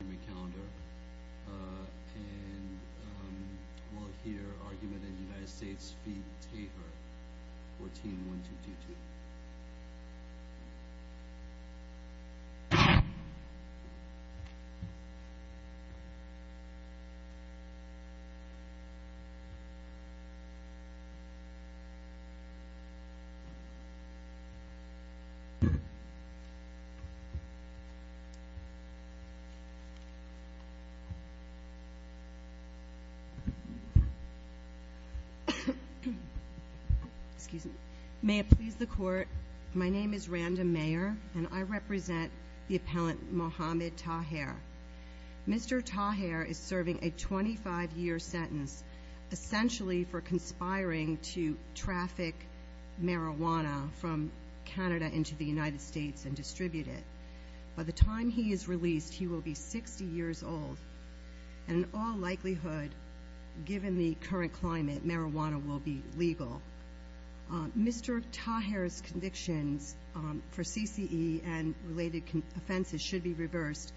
v. McAllister, and we'll hear argument in the United States v. Tabor, 14-1222. May it please the Court, my name is Randa Mayer, and I represent the appellant Mohammed Tahir. Mr. Tahir is serving a 25-year sentence, essentially for conspiring to traffic marijuana from Canada into the United States and distribute it. By the time he is released, he will be 60 years old, and in all likelihood, given the current climate, marijuana will be legal. Mr. Tahir's convictions for CCE and related offenses should be reversed,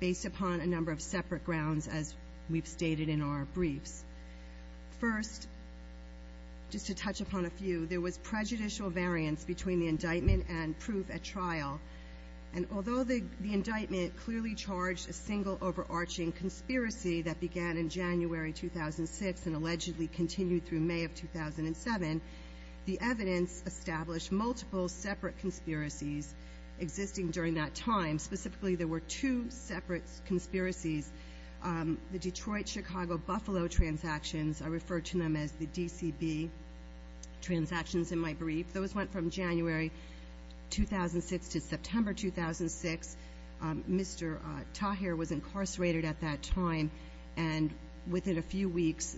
based upon a number of separate grounds, as we've stated in our briefs. First, just to touch upon a few, there was prejudicial variance between the indictment and proof at trial, and although the indictment clearly charged a single, overarching conspiracy that began in January 2006 and allegedly continued through May of 2007, the evidence established multiple separate conspiracies existing during that time. Specifically, there were two separate conspiracies. The Detroit-Chicago-Buffalo transactions, I refer to them as the DCB transactions in my brief, those went from January 2006 to September 2006. Mr. Tahir was incarcerated at that time, and within a few weeks,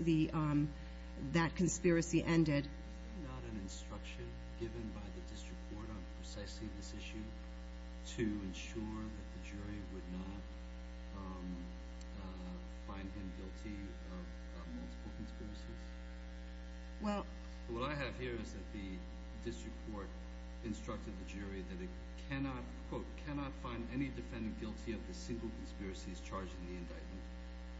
that conspiracy ended. Is there not an instruction given by the district court on precisely this issue to ensure that the jury would not find him guilty of multiple conspiracies? What I have here is that the district court instructed the jury that it cannot quote, cannot find any defendant guilty of the single conspiracies charged in the indictment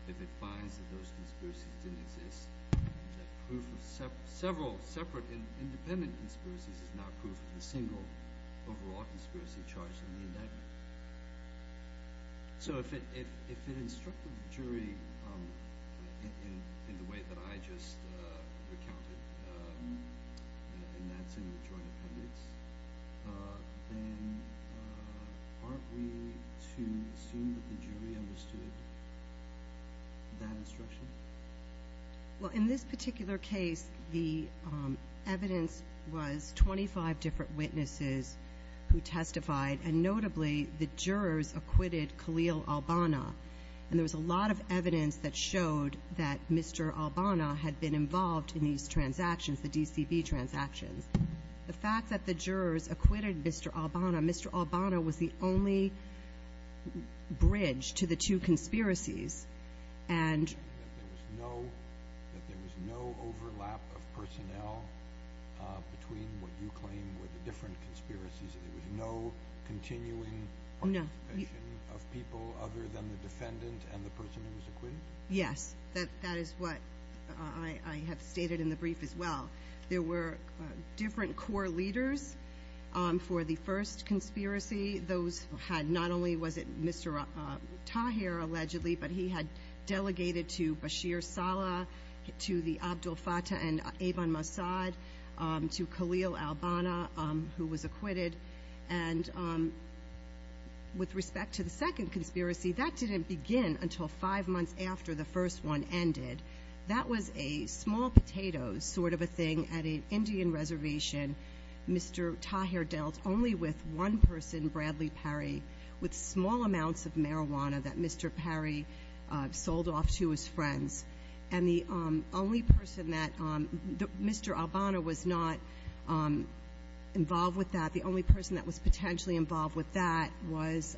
if it finds that those conspiracies didn't exist, and that proof of several separate independent conspiracies is not proof of the single, overall conspiracy charged in the indictment. So if it instructed the jury in the way that I just recounted, and that's in the joint appendix, then aren't we to assume that the jury understood that instruction? Well, in this particular case, the evidence was 25 different witnesses who testified, and notably, the jurors acquitted Khalil Albana. And there was a lot of evidence that showed that Mr. Albana had been involved in these transactions, the DCB transactions. The fact that the jurors acquitted Mr. Albana, Mr. Albana was the only bridge to the two conspiracies. And there was no overlap of personnel between what you claim were the different conspiracies? There was no continuing participation of people other than the defendant and the person who was acquitted? Yes. That is what I have stated in the brief as well. There were different core leaders for the first conspiracy. Those had not only was it Mr. Tahir, allegedly, but he had delegated to Bashir Saleh, to the Abdul Fattah and Eban Mossad, to Khalil Albana, who was acquitted. And with respect to the second conspiracy, that didn't begin until five months after the first one ended. That was a small potato sort of a thing at an Indian reservation. Mr. Tahir dealt only with one person, Bradley Parry, with small amounts of marijuana that Mr. Parry sold off to his friends. And the only person that Mr. Albana was not involved with that, the only person that was potentially involved with that, was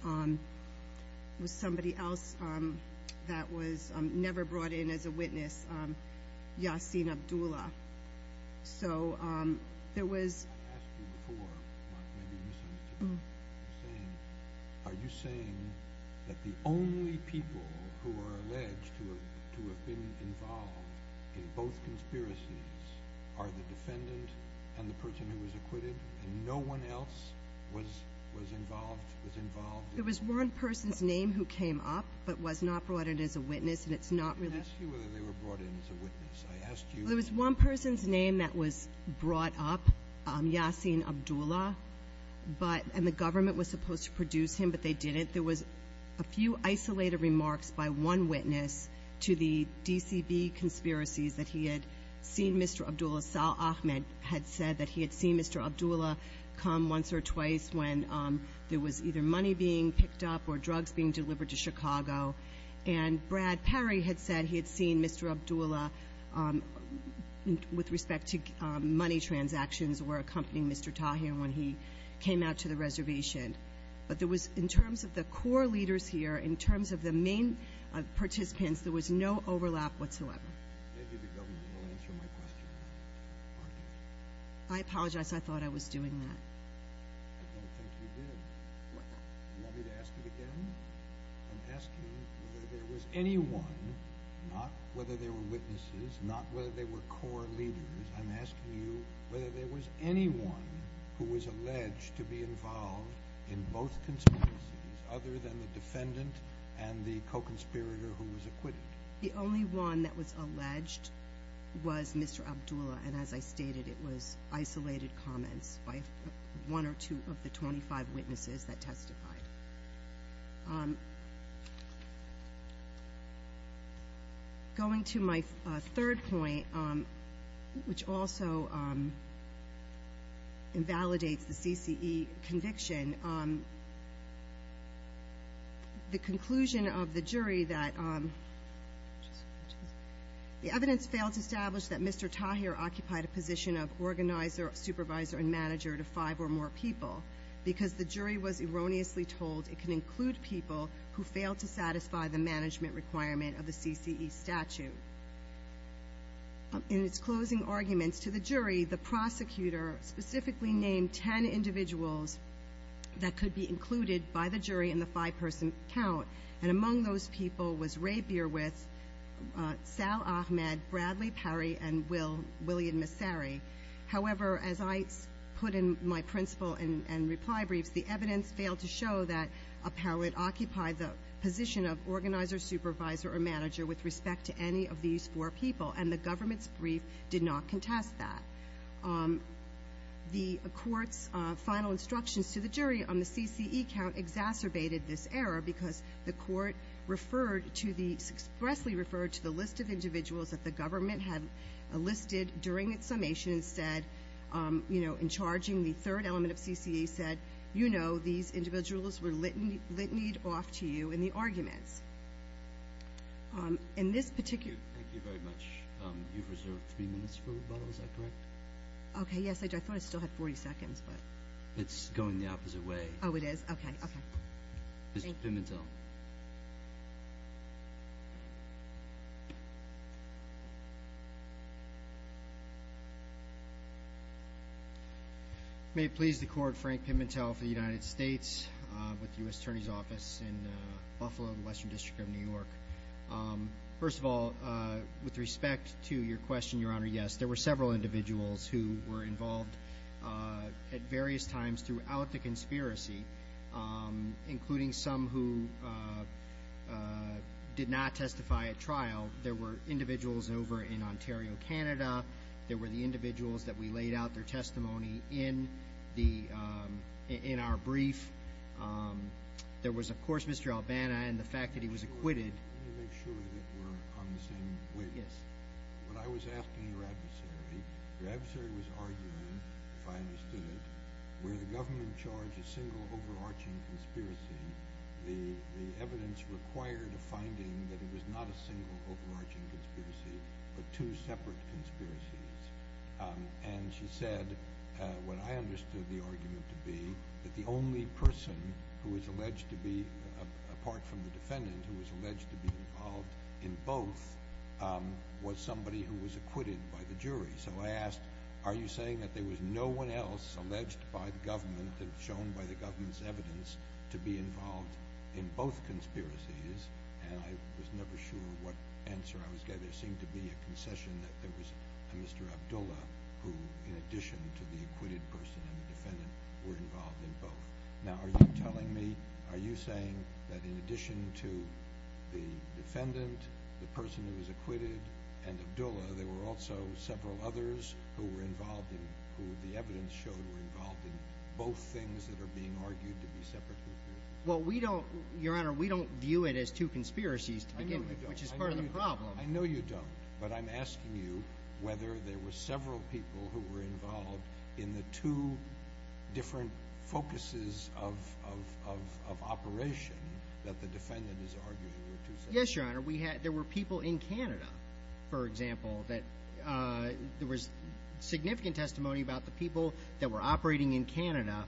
somebody else that was never brought in as a witness, Yasin Abdullah. So there was- I've asked you before, Mark, maybe you should answer this. Are you saying that the only people who are alleged to have been involved in both conspiracies are the defendant and the person who was acquitted, and no one else was involved? There was one person's name who came up but was not brought in as a witness, and it's not really- I didn't ask you whether they were brought in as a witness. I asked you- There was one person's name that was brought up, Yasin Abdullah, and the government was supposed to produce him, but they didn't. There was a few isolated remarks by one witness to the DCB conspiracies that he had seen Mr. Abdullah. Sal Ahmed had said that he had seen Mr. Abdullah come once or twice when there was either money being picked up or drugs being delivered to Chicago. And Brad Parry had said he had seen Mr. Abdullah with respect to money transactions or accompanying Mr. Tahir when he came out to the reservation. But there was, in terms of the core leaders here, in terms of the main participants, there was no overlap whatsoever. Maybe the government will answer my question. I apologize. I thought I was doing that. I don't think you did. Would you like me to ask it again? I'm asking whether there was anyone, not whether they were witnesses, not whether they were core leaders. I'm asking you whether there was anyone who was alleged to be involved in both conspiracies other than the defendant and the co-conspirator who was acquitted. The only one that was alleged was Mr. Abdullah, and as I stated, it was isolated comments by one or two of the 25 witnesses that testified. Going to my third point, which also invalidates the CCE conviction, the conclusion of the jury that the evidence failed to establish that Mr. Tahir occupied a position of organizer, supervisor, and manager to five or more people because the jury was erroneously told it can include people who failed to satisfy the management requirement of the CCE statute. In its closing arguments to the jury, the prosecutor specifically named ten individuals that could be included by the jury in the five-person count, and among those people was Ray Bierwith, Sal Ahmed, Bradley Perry, and William Massary. However, as I put in my principle and reply briefs, the evidence failed to show that Appellate occupied the position of organizer, supervisor, or manager with respect to any of these four people, and the government's brief did not contest that. The court's final instructions to the jury on the CCE count exacerbated this error because the court expressly referred to the list of individuals that the government had listed during its summation and said, in charging the third element of CCE, said, you know these individuals were litanied off to you in the arguments. Thank you very much. You've reserved three minutes for rebuttal, is that correct? Okay, yes, I do. I thought I still had 40 seconds. It's going the opposite way. Oh, it is? Okay. Mr. Pimentel. May it please the court, Frank Pimentel for the United States with the U.S. Attorney's Office in Buffalo, the Western District of New York. First of all, with respect to your question, Your Honor, yes, there were several individuals who were involved at various times throughout the conspiracy, including some who did not testify at trial. There were individuals over in Ontario, Canada. There were the individuals that we laid out their testimony in our brief. There was, of course, Mr. Albana and the fact that he was acquitted. Let me make sure that we're on the same page. Yes. When I was asking your adversary, your adversary was arguing, if I understood it, where the government charged a single overarching conspiracy, the evidence required a finding that it was not a single overarching conspiracy but two separate conspiracies. And she said, what I understood the argument to be, that the only person who was alleged to be, apart from the defendant who was alleged to be involved in both, was somebody who was acquitted by the jury. So I asked, are you saying that there was no one else alleged by the government and shown by the government's evidence to be involved in both conspiracies? And I was never sure what answer I was getting. There seemed to be a concession that there was a Mr. Abdullah who, in addition to the acquitted person and the defendant, were involved in both. Now, are you telling me, are you saying that in addition to the defendant, the person who was acquitted, and Abdullah, there were also several others who were involved in, who the evidence showed were involved in both things that are being argued to be separate conspiracies? Well, we don't, Your Honor, we don't view it as two conspiracies to begin with, which is part of the problem. I know you don't, but I'm asking you whether there were several people who were involved in the two different focuses of operation that the defendant is arguing were two separate things. Yes, Your Honor. There were people in Canada, for example, that there was significant testimony about the people that were operating in Canada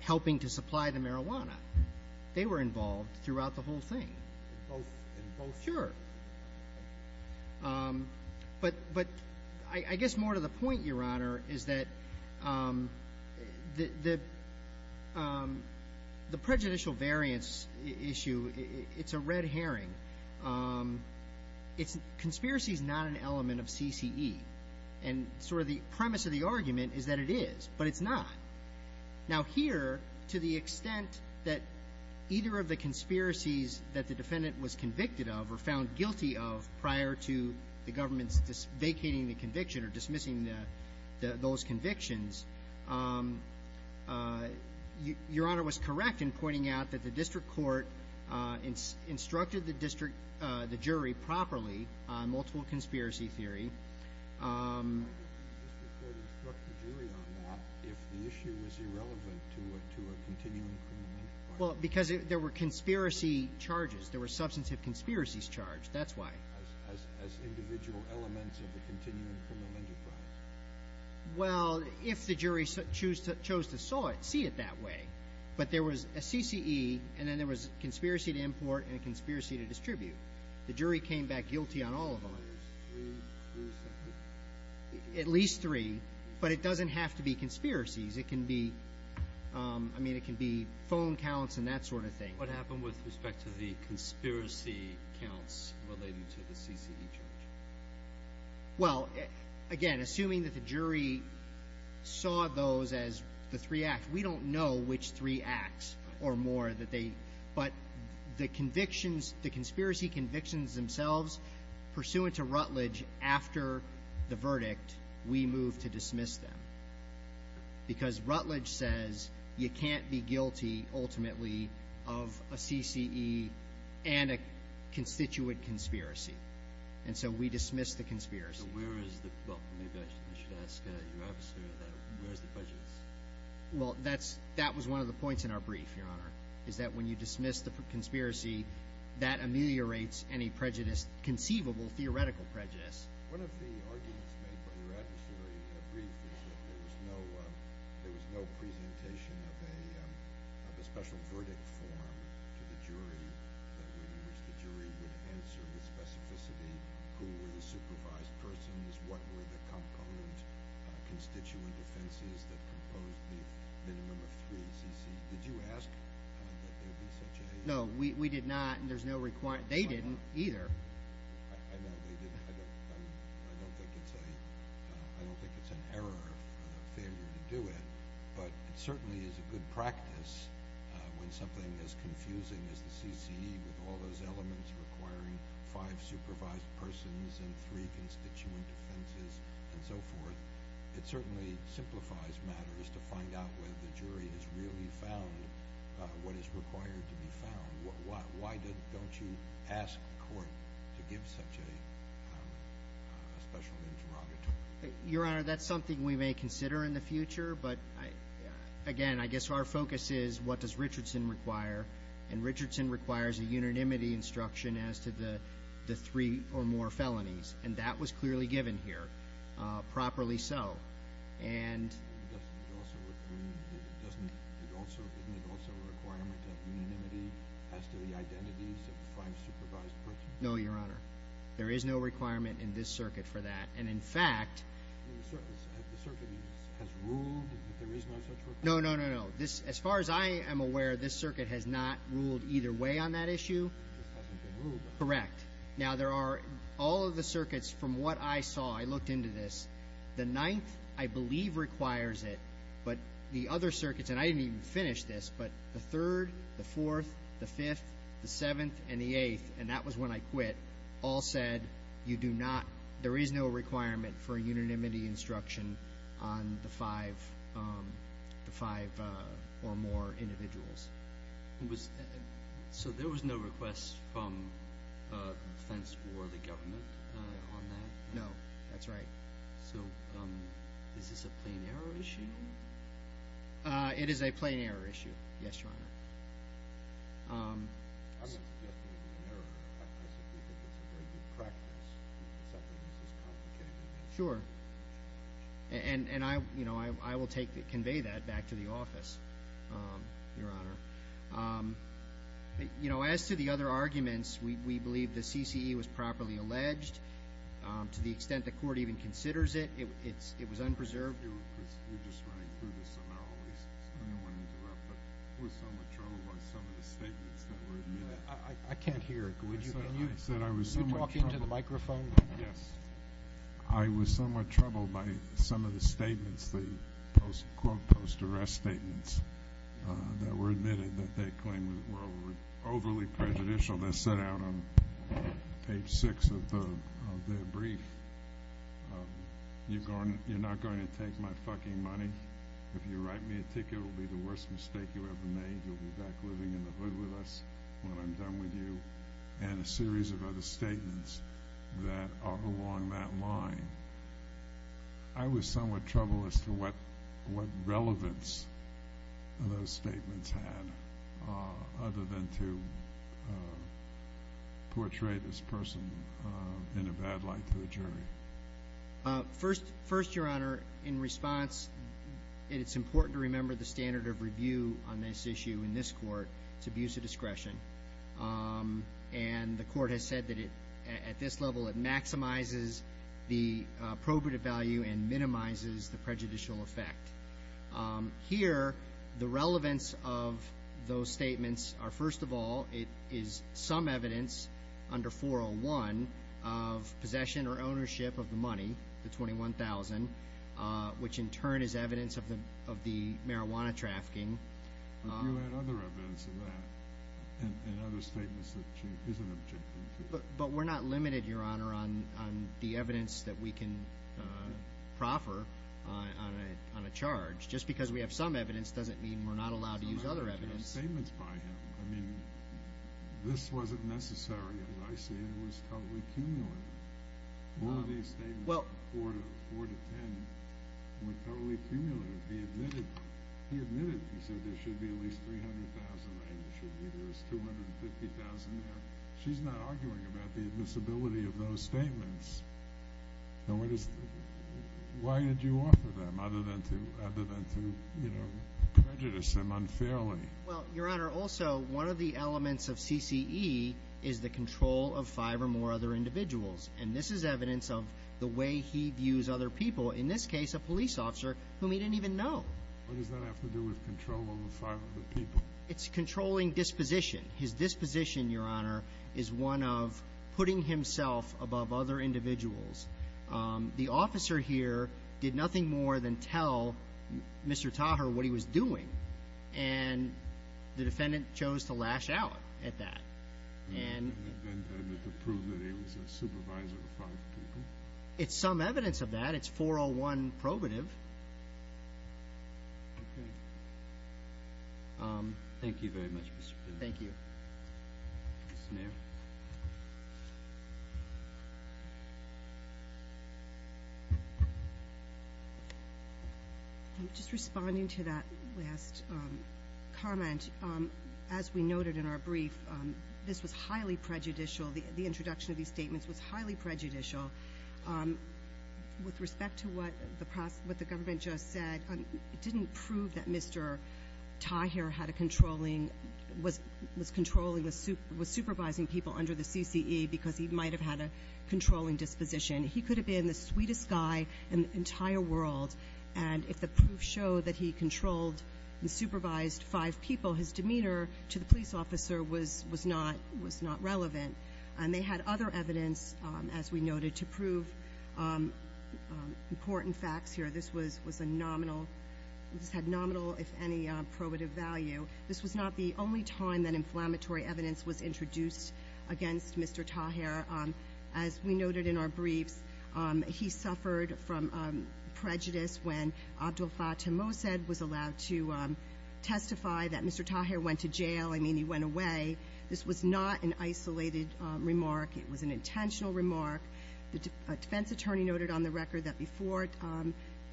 helping to supply the marijuana. They were involved throughout the whole thing. Both? Sure. But I guess more to the point, Your Honor, is that the prejudicial variance issue, it's a red herring. Conspiracy is not an element of CCE, and sort of the premise of the argument is that it is, but it's not. Now here, to the extent that either of the conspiracies that the defendant was convicted of or found guilty of prior to the government vacating the conviction or dismissing those convictions, Your Honor was correct in pointing out that the district court instructed the jury properly on multiple conspiracy theory. Why did the district court instruct the jury on that if the issue was irrelevant to a continuing criminal enterprise? Well, because there were conspiracy charges. There were substantive conspiracies charged. That's why. As individual elements of the continuing criminal enterprise. Well, if the jury chose to see it that way, but there was a CCE, and then there was a conspiracy to import and a conspiracy to distribute. The jury came back guilty on all of them. At least three, but it doesn't have to be conspiracies. It can be phone counts and that sort of thing. What happened with respect to the conspiracy counts related to the CCE charge? Well, again, assuming that the jury saw those as the three acts, we don't know which three acts or more that they, but the convictions, the conspiracy convictions themselves pursuant to Rutledge after the verdict, we moved to dismiss them. Because Rutledge says you can't be guilty ultimately of a CCE and a constituent conspiracy, and so we dismissed the conspiracy. So where is the, well, maybe I should ask your officer that, where's the prejudice? Well, that was one of the points in our brief, Your Honor, is that when you dismiss the conspiracy, that ameliorates any prejudice, conceivable theoretical prejudice. One of the arguments made by your adversary in that brief is that there was no presentation of a special verdict form to the jury in which the jury would answer with specificity who were the supervised persons, what were the component constituent offenses that composed the minimum of three CCEs. Did you ask that there be such a – No, we did not, and there's no – they didn't either. I know they didn't. I don't think it's an error of failure to do it, but it certainly is a good practice when something as confusing as the CCE, with all those elements requiring five supervised persons and three constituent offenses and so forth, it certainly simplifies matters to find out whether the jury has really found what is required to be found. Why don't you ask the court to give such a special interrogatory? Your Honor, that's something we may consider in the future, but, again, I guess our focus is what does Richardson require, and Richardson requires a unanimity instruction as to the three or more felonies, and that was clearly given here, properly so. Doesn't it also make a requirement of unanimity as to the identities of five supervised persons? No, Your Honor. There is no requirement in this circuit for that. And, in fact – The circuit has ruled that there is no such requirement? No, no, no, no. As far as I am aware, this circuit has not ruled either way on that issue. This hasn't been ruled. Correct. Now, there are – all of the circuits, from what I saw, I looked into this, the ninth, I believe, requires it, but the other circuits – and I didn't even finish this – but the third, the fourth, the fifth, the seventh, and the eighth, and that was when I quit, all said, you do not – there is no requirement for unanimity instruction on the five or more individuals. So there was no request from the defense or the government on that? No, that's right. So is this a plain error issue? I wouldn't suggest it would be an error. In fact, I simply think it's a very good practice to accept that this is complicated. Sure. And I will convey that back to the office, Your Honor. As to the other arguments, we believe the CCE was properly alleged. To the extent the court even considers it, it was unpreserved. We're just running through this, so I don't want to interrupt, but I was somewhat troubled by some of the statements that were admitted. I can't hear. Can you talk into the microphone? Yes. I was somewhat troubled by some of the statements, the quote, post-arrest statements, that were admitted that they claimed were overly prejudicial. They said out on page six of their brief, you're not going to take my fucking money. If you write me a ticket, it will be the worst mistake you ever made. You'll be back living in the hood with us when I'm done with you, and a series of other statements that are along that line. I was somewhat troubled as to what relevance those statements had, other than to portray this person in a bad light to a jury. First, Your Honor, in response, it's important to remember the standard of review on this issue in this court. It's abuse of discretion. And the court has said that at this level, it maximizes the probative value and minimizes the prejudicial effect. Here, the relevance of those statements are, first of all, it is some evidence under 401 of possession or ownership of the money, the $21,000, which in turn is evidence of the marijuana trafficking. But you had other evidence of that in other statements that she isn't objecting to. But we're not limited, Your Honor, on the evidence that we can proffer on a charge. Just because we have some evidence doesn't mean we're not allowed to use other evidence. Some evidence in statements by him. I mean, this wasn't necessary, as I see it. It was totally cumulative. All of these statements from 4 to 10 were totally cumulative. He admitted it. He admitted it. He said there should be at least $300,000, right? There should be. There's $250,000 there. She's not arguing about the admissibility of those statements. Why did you offer them other than to prejudice them unfairly? Well, Your Honor, also one of the elements of CCE is the control of five or more other individuals. And this is evidence of the way he views other people, in this case a police officer, whom he didn't even know. What does that have to do with control over five other people? It's controlling disposition. His disposition, Your Honor, is one of putting himself above other individuals. The officer here did nothing more than tell Mr. Taher what he was doing, and the defendant chose to lash out at that. And to prove that he was a supervisor of five people? It's some evidence of that. It's 401 probative. Okay. Thank you very much, Mr. President. Thank you. Mr. Mayor. Just responding to that last comment, as we noted in our brief, this was highly prejudicial. The introduction of these statements was highly prejudicial. With respect to what the government just said, it didn't prove that Mr. Taher was supervising people under the CCE because he might have had a controlling disposition. He could have been the sweetest guy in the entire world, and if the proof showed that he controlled and supervised five people, his demeanor to the police officer was not relevant. And they had other evidence, as we noted, to prove important facts here. This had nominal, if any, probative value. This was not the only time that inflammatory evidence was introduced against Mr. Taher. As we noted in our briefs, he suffered from prejudice when Abdel Fattah Mossad was allowed to testify that Mr. Taher went to jail. I mean, he went away. This was not an isolated remark. It was an intentional remark. A defense attorney noted on the record that before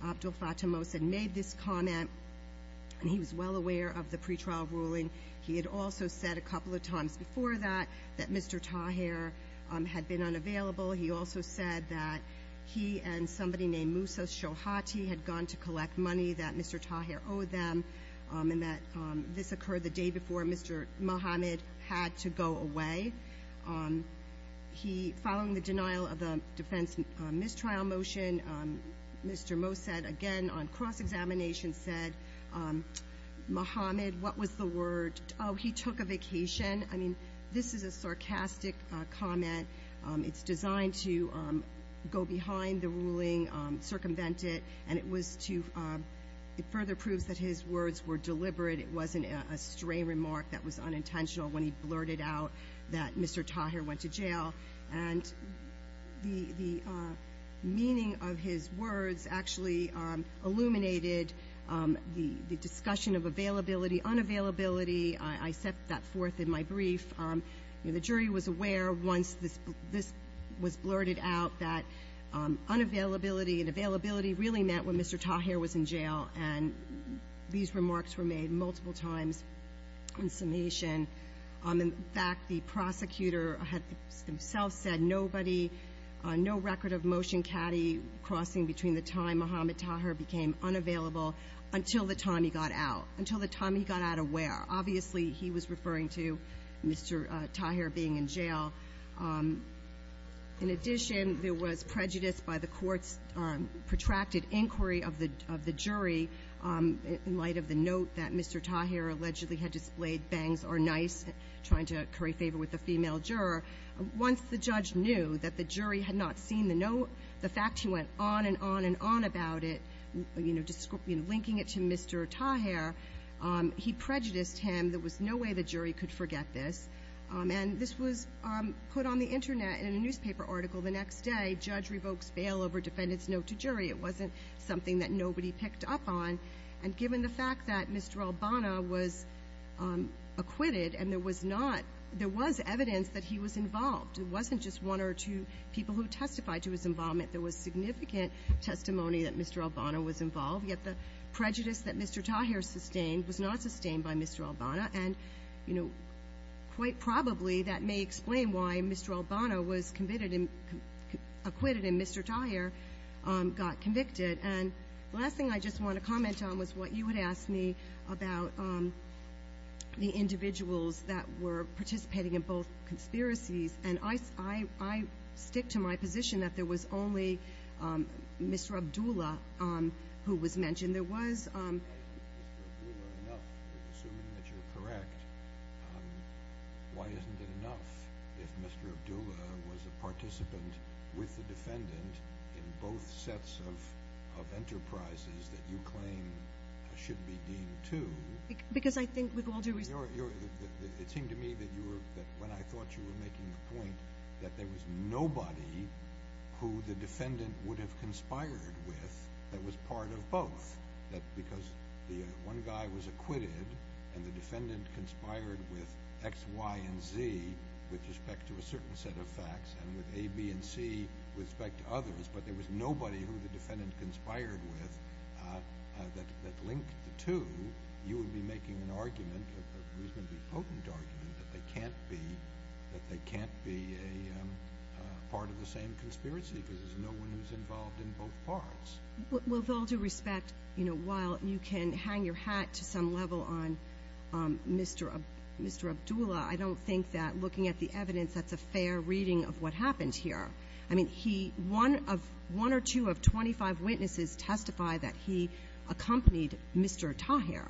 Abdel Fattah Mossad made this comment, and he was well aware of the pretrial ruling, he had also said a couple of times before that that Mr. Taher had been unavailable. He also said that he and somebody named Musa Shohati had gone to collect money that Mr. Taher owed them, and that this occurred the day before Mr. Mohamed had to go away. Following the denial of the defense mistrial motion, Mr. Mossad again on cross-examination said, Mohamed, what was the word? Oh, he took a vacation. I mean, this is a sarcastic comment. It's designed to go behind the ruling, circumvent it, and it further proves that his words were deliberate. It wasn't a stray remark that was unintentional when he blurted out that Mr. Taher went to jail. And the meaning of his words actually illuminated the discussion of availability, unavailability. The jury was aware once this was blurted out that unavailability and availability really meant when Mr. Taher was in jail, and these remarks were made multiple times in summation. In fact, the prosecutor himself said nobody, no record of motion caddy crossing between the time Mohamed Taher became unavailable until the time he got out, until the time he got out of where. Obviously, he was referring to Mr. Taher being in jail. In addition, there was prejudice by the court's protracted inquiry of the jury in light of the note that Mr. Taher allegedly had displayed, bangs are nice, trying to curry favor with the female juror. Once the judge knew that the jury had not seen the note, the fact he went on and on and on about it, linking it to Mr. Taher, he prejudiced him. There was no way the jury could forget this. And this was put on the Internet in a newspaper article the next day, judge revokes bail over defendant's note to jury. It wasn't something that nobody picked up on. And given the fact that Mr. Albana was acquitted and there was not, there was evidence that he was involved. It wasn't just one or two people who testified to his involvement. There was significant testimony that Mr. Albana was involved, yet the prejudice that Mr. Taher sustained was not sustained by Mr. Albana. And, you know, quite probably that may explain why Mr. Albana was acquitted and Mr. Taher got convicted. And the last thing I just want to comment on was what you had asked me about the individuals that were participating in both conspiracies. And I stick to my position that there was only Mr. Abdullah who was mentioned. There was. If Mr. Abdullah is enough, assuming that you're correct, why isn't it enough if Mr. Abdullah was a participant with the defendant in both sets of enterprises that you claim should be deemed to? Because I think with all due respect. It seemed to me that when I thought you were making the point that there was nobody who the defendant would have conspired with that was part of both, that because one guy was acquitted and the defendant conspired with X, Y, and Z with respect to a certain set of facts and with A, B, and C with respect to others, but there was nobody who the defendant conspired with that linked the two, you would be making an argument, a reasonably potent argument, that they can't be a part of the same conspiracy because there's no one who's involved in both parts. Well, with all due respect, you know, while you can hang your hat to some level on Mr. Abdullah, I don't think that looking at the evidence, that's a fair reading of what happened here. I mean, one or two of 25 witnesses testify that he accompanied Mr. Tahir.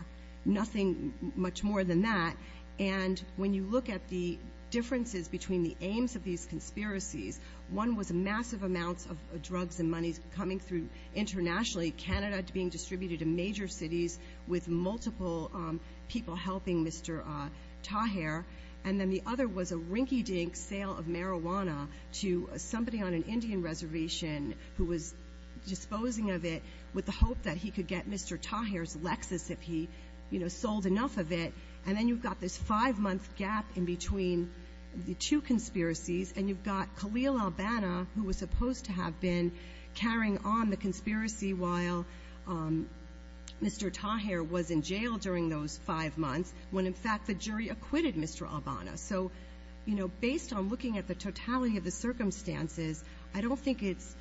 Nothing much more than that. And when you look at the differences between the aims of these conspiracies, one was massive amounts of drugs and money coming through internationally, Canada being distributed to major cities with multiple people helping Mr. Tahir, and then the other was a rinky-dink sale of marijuana to somebody on an Indian reservation who was disposing of it with the hope that he could get Mr. Tahir's Lexus if he, you know, sold enough of it. And then you've got this five-month gap in between the two conspiracies, and you've got Khalil al-Banna, who was supposed to have been carrying on the conspiracy while Mr. Tahir was in jail during those five months when, in fact, the jury acquitted Mr. al-Banna. So, you know, based on looking at the totality of the circumstances, I don't think it's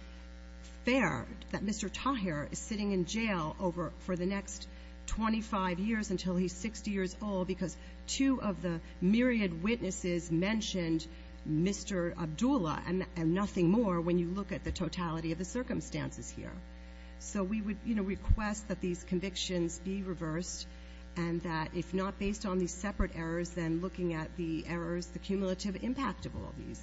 fair that Mr. Tahir is sitting in jail for the next 25 years until he's 60 years old because two of the myriad witnesses mentioned Mr. Abdullah and nothing more when you look at the totality of the circumstances here. So we would, you know, request that these convictions be reversed and that if not based on these separate errors, then looking at the errors, the cumulative impact of all these.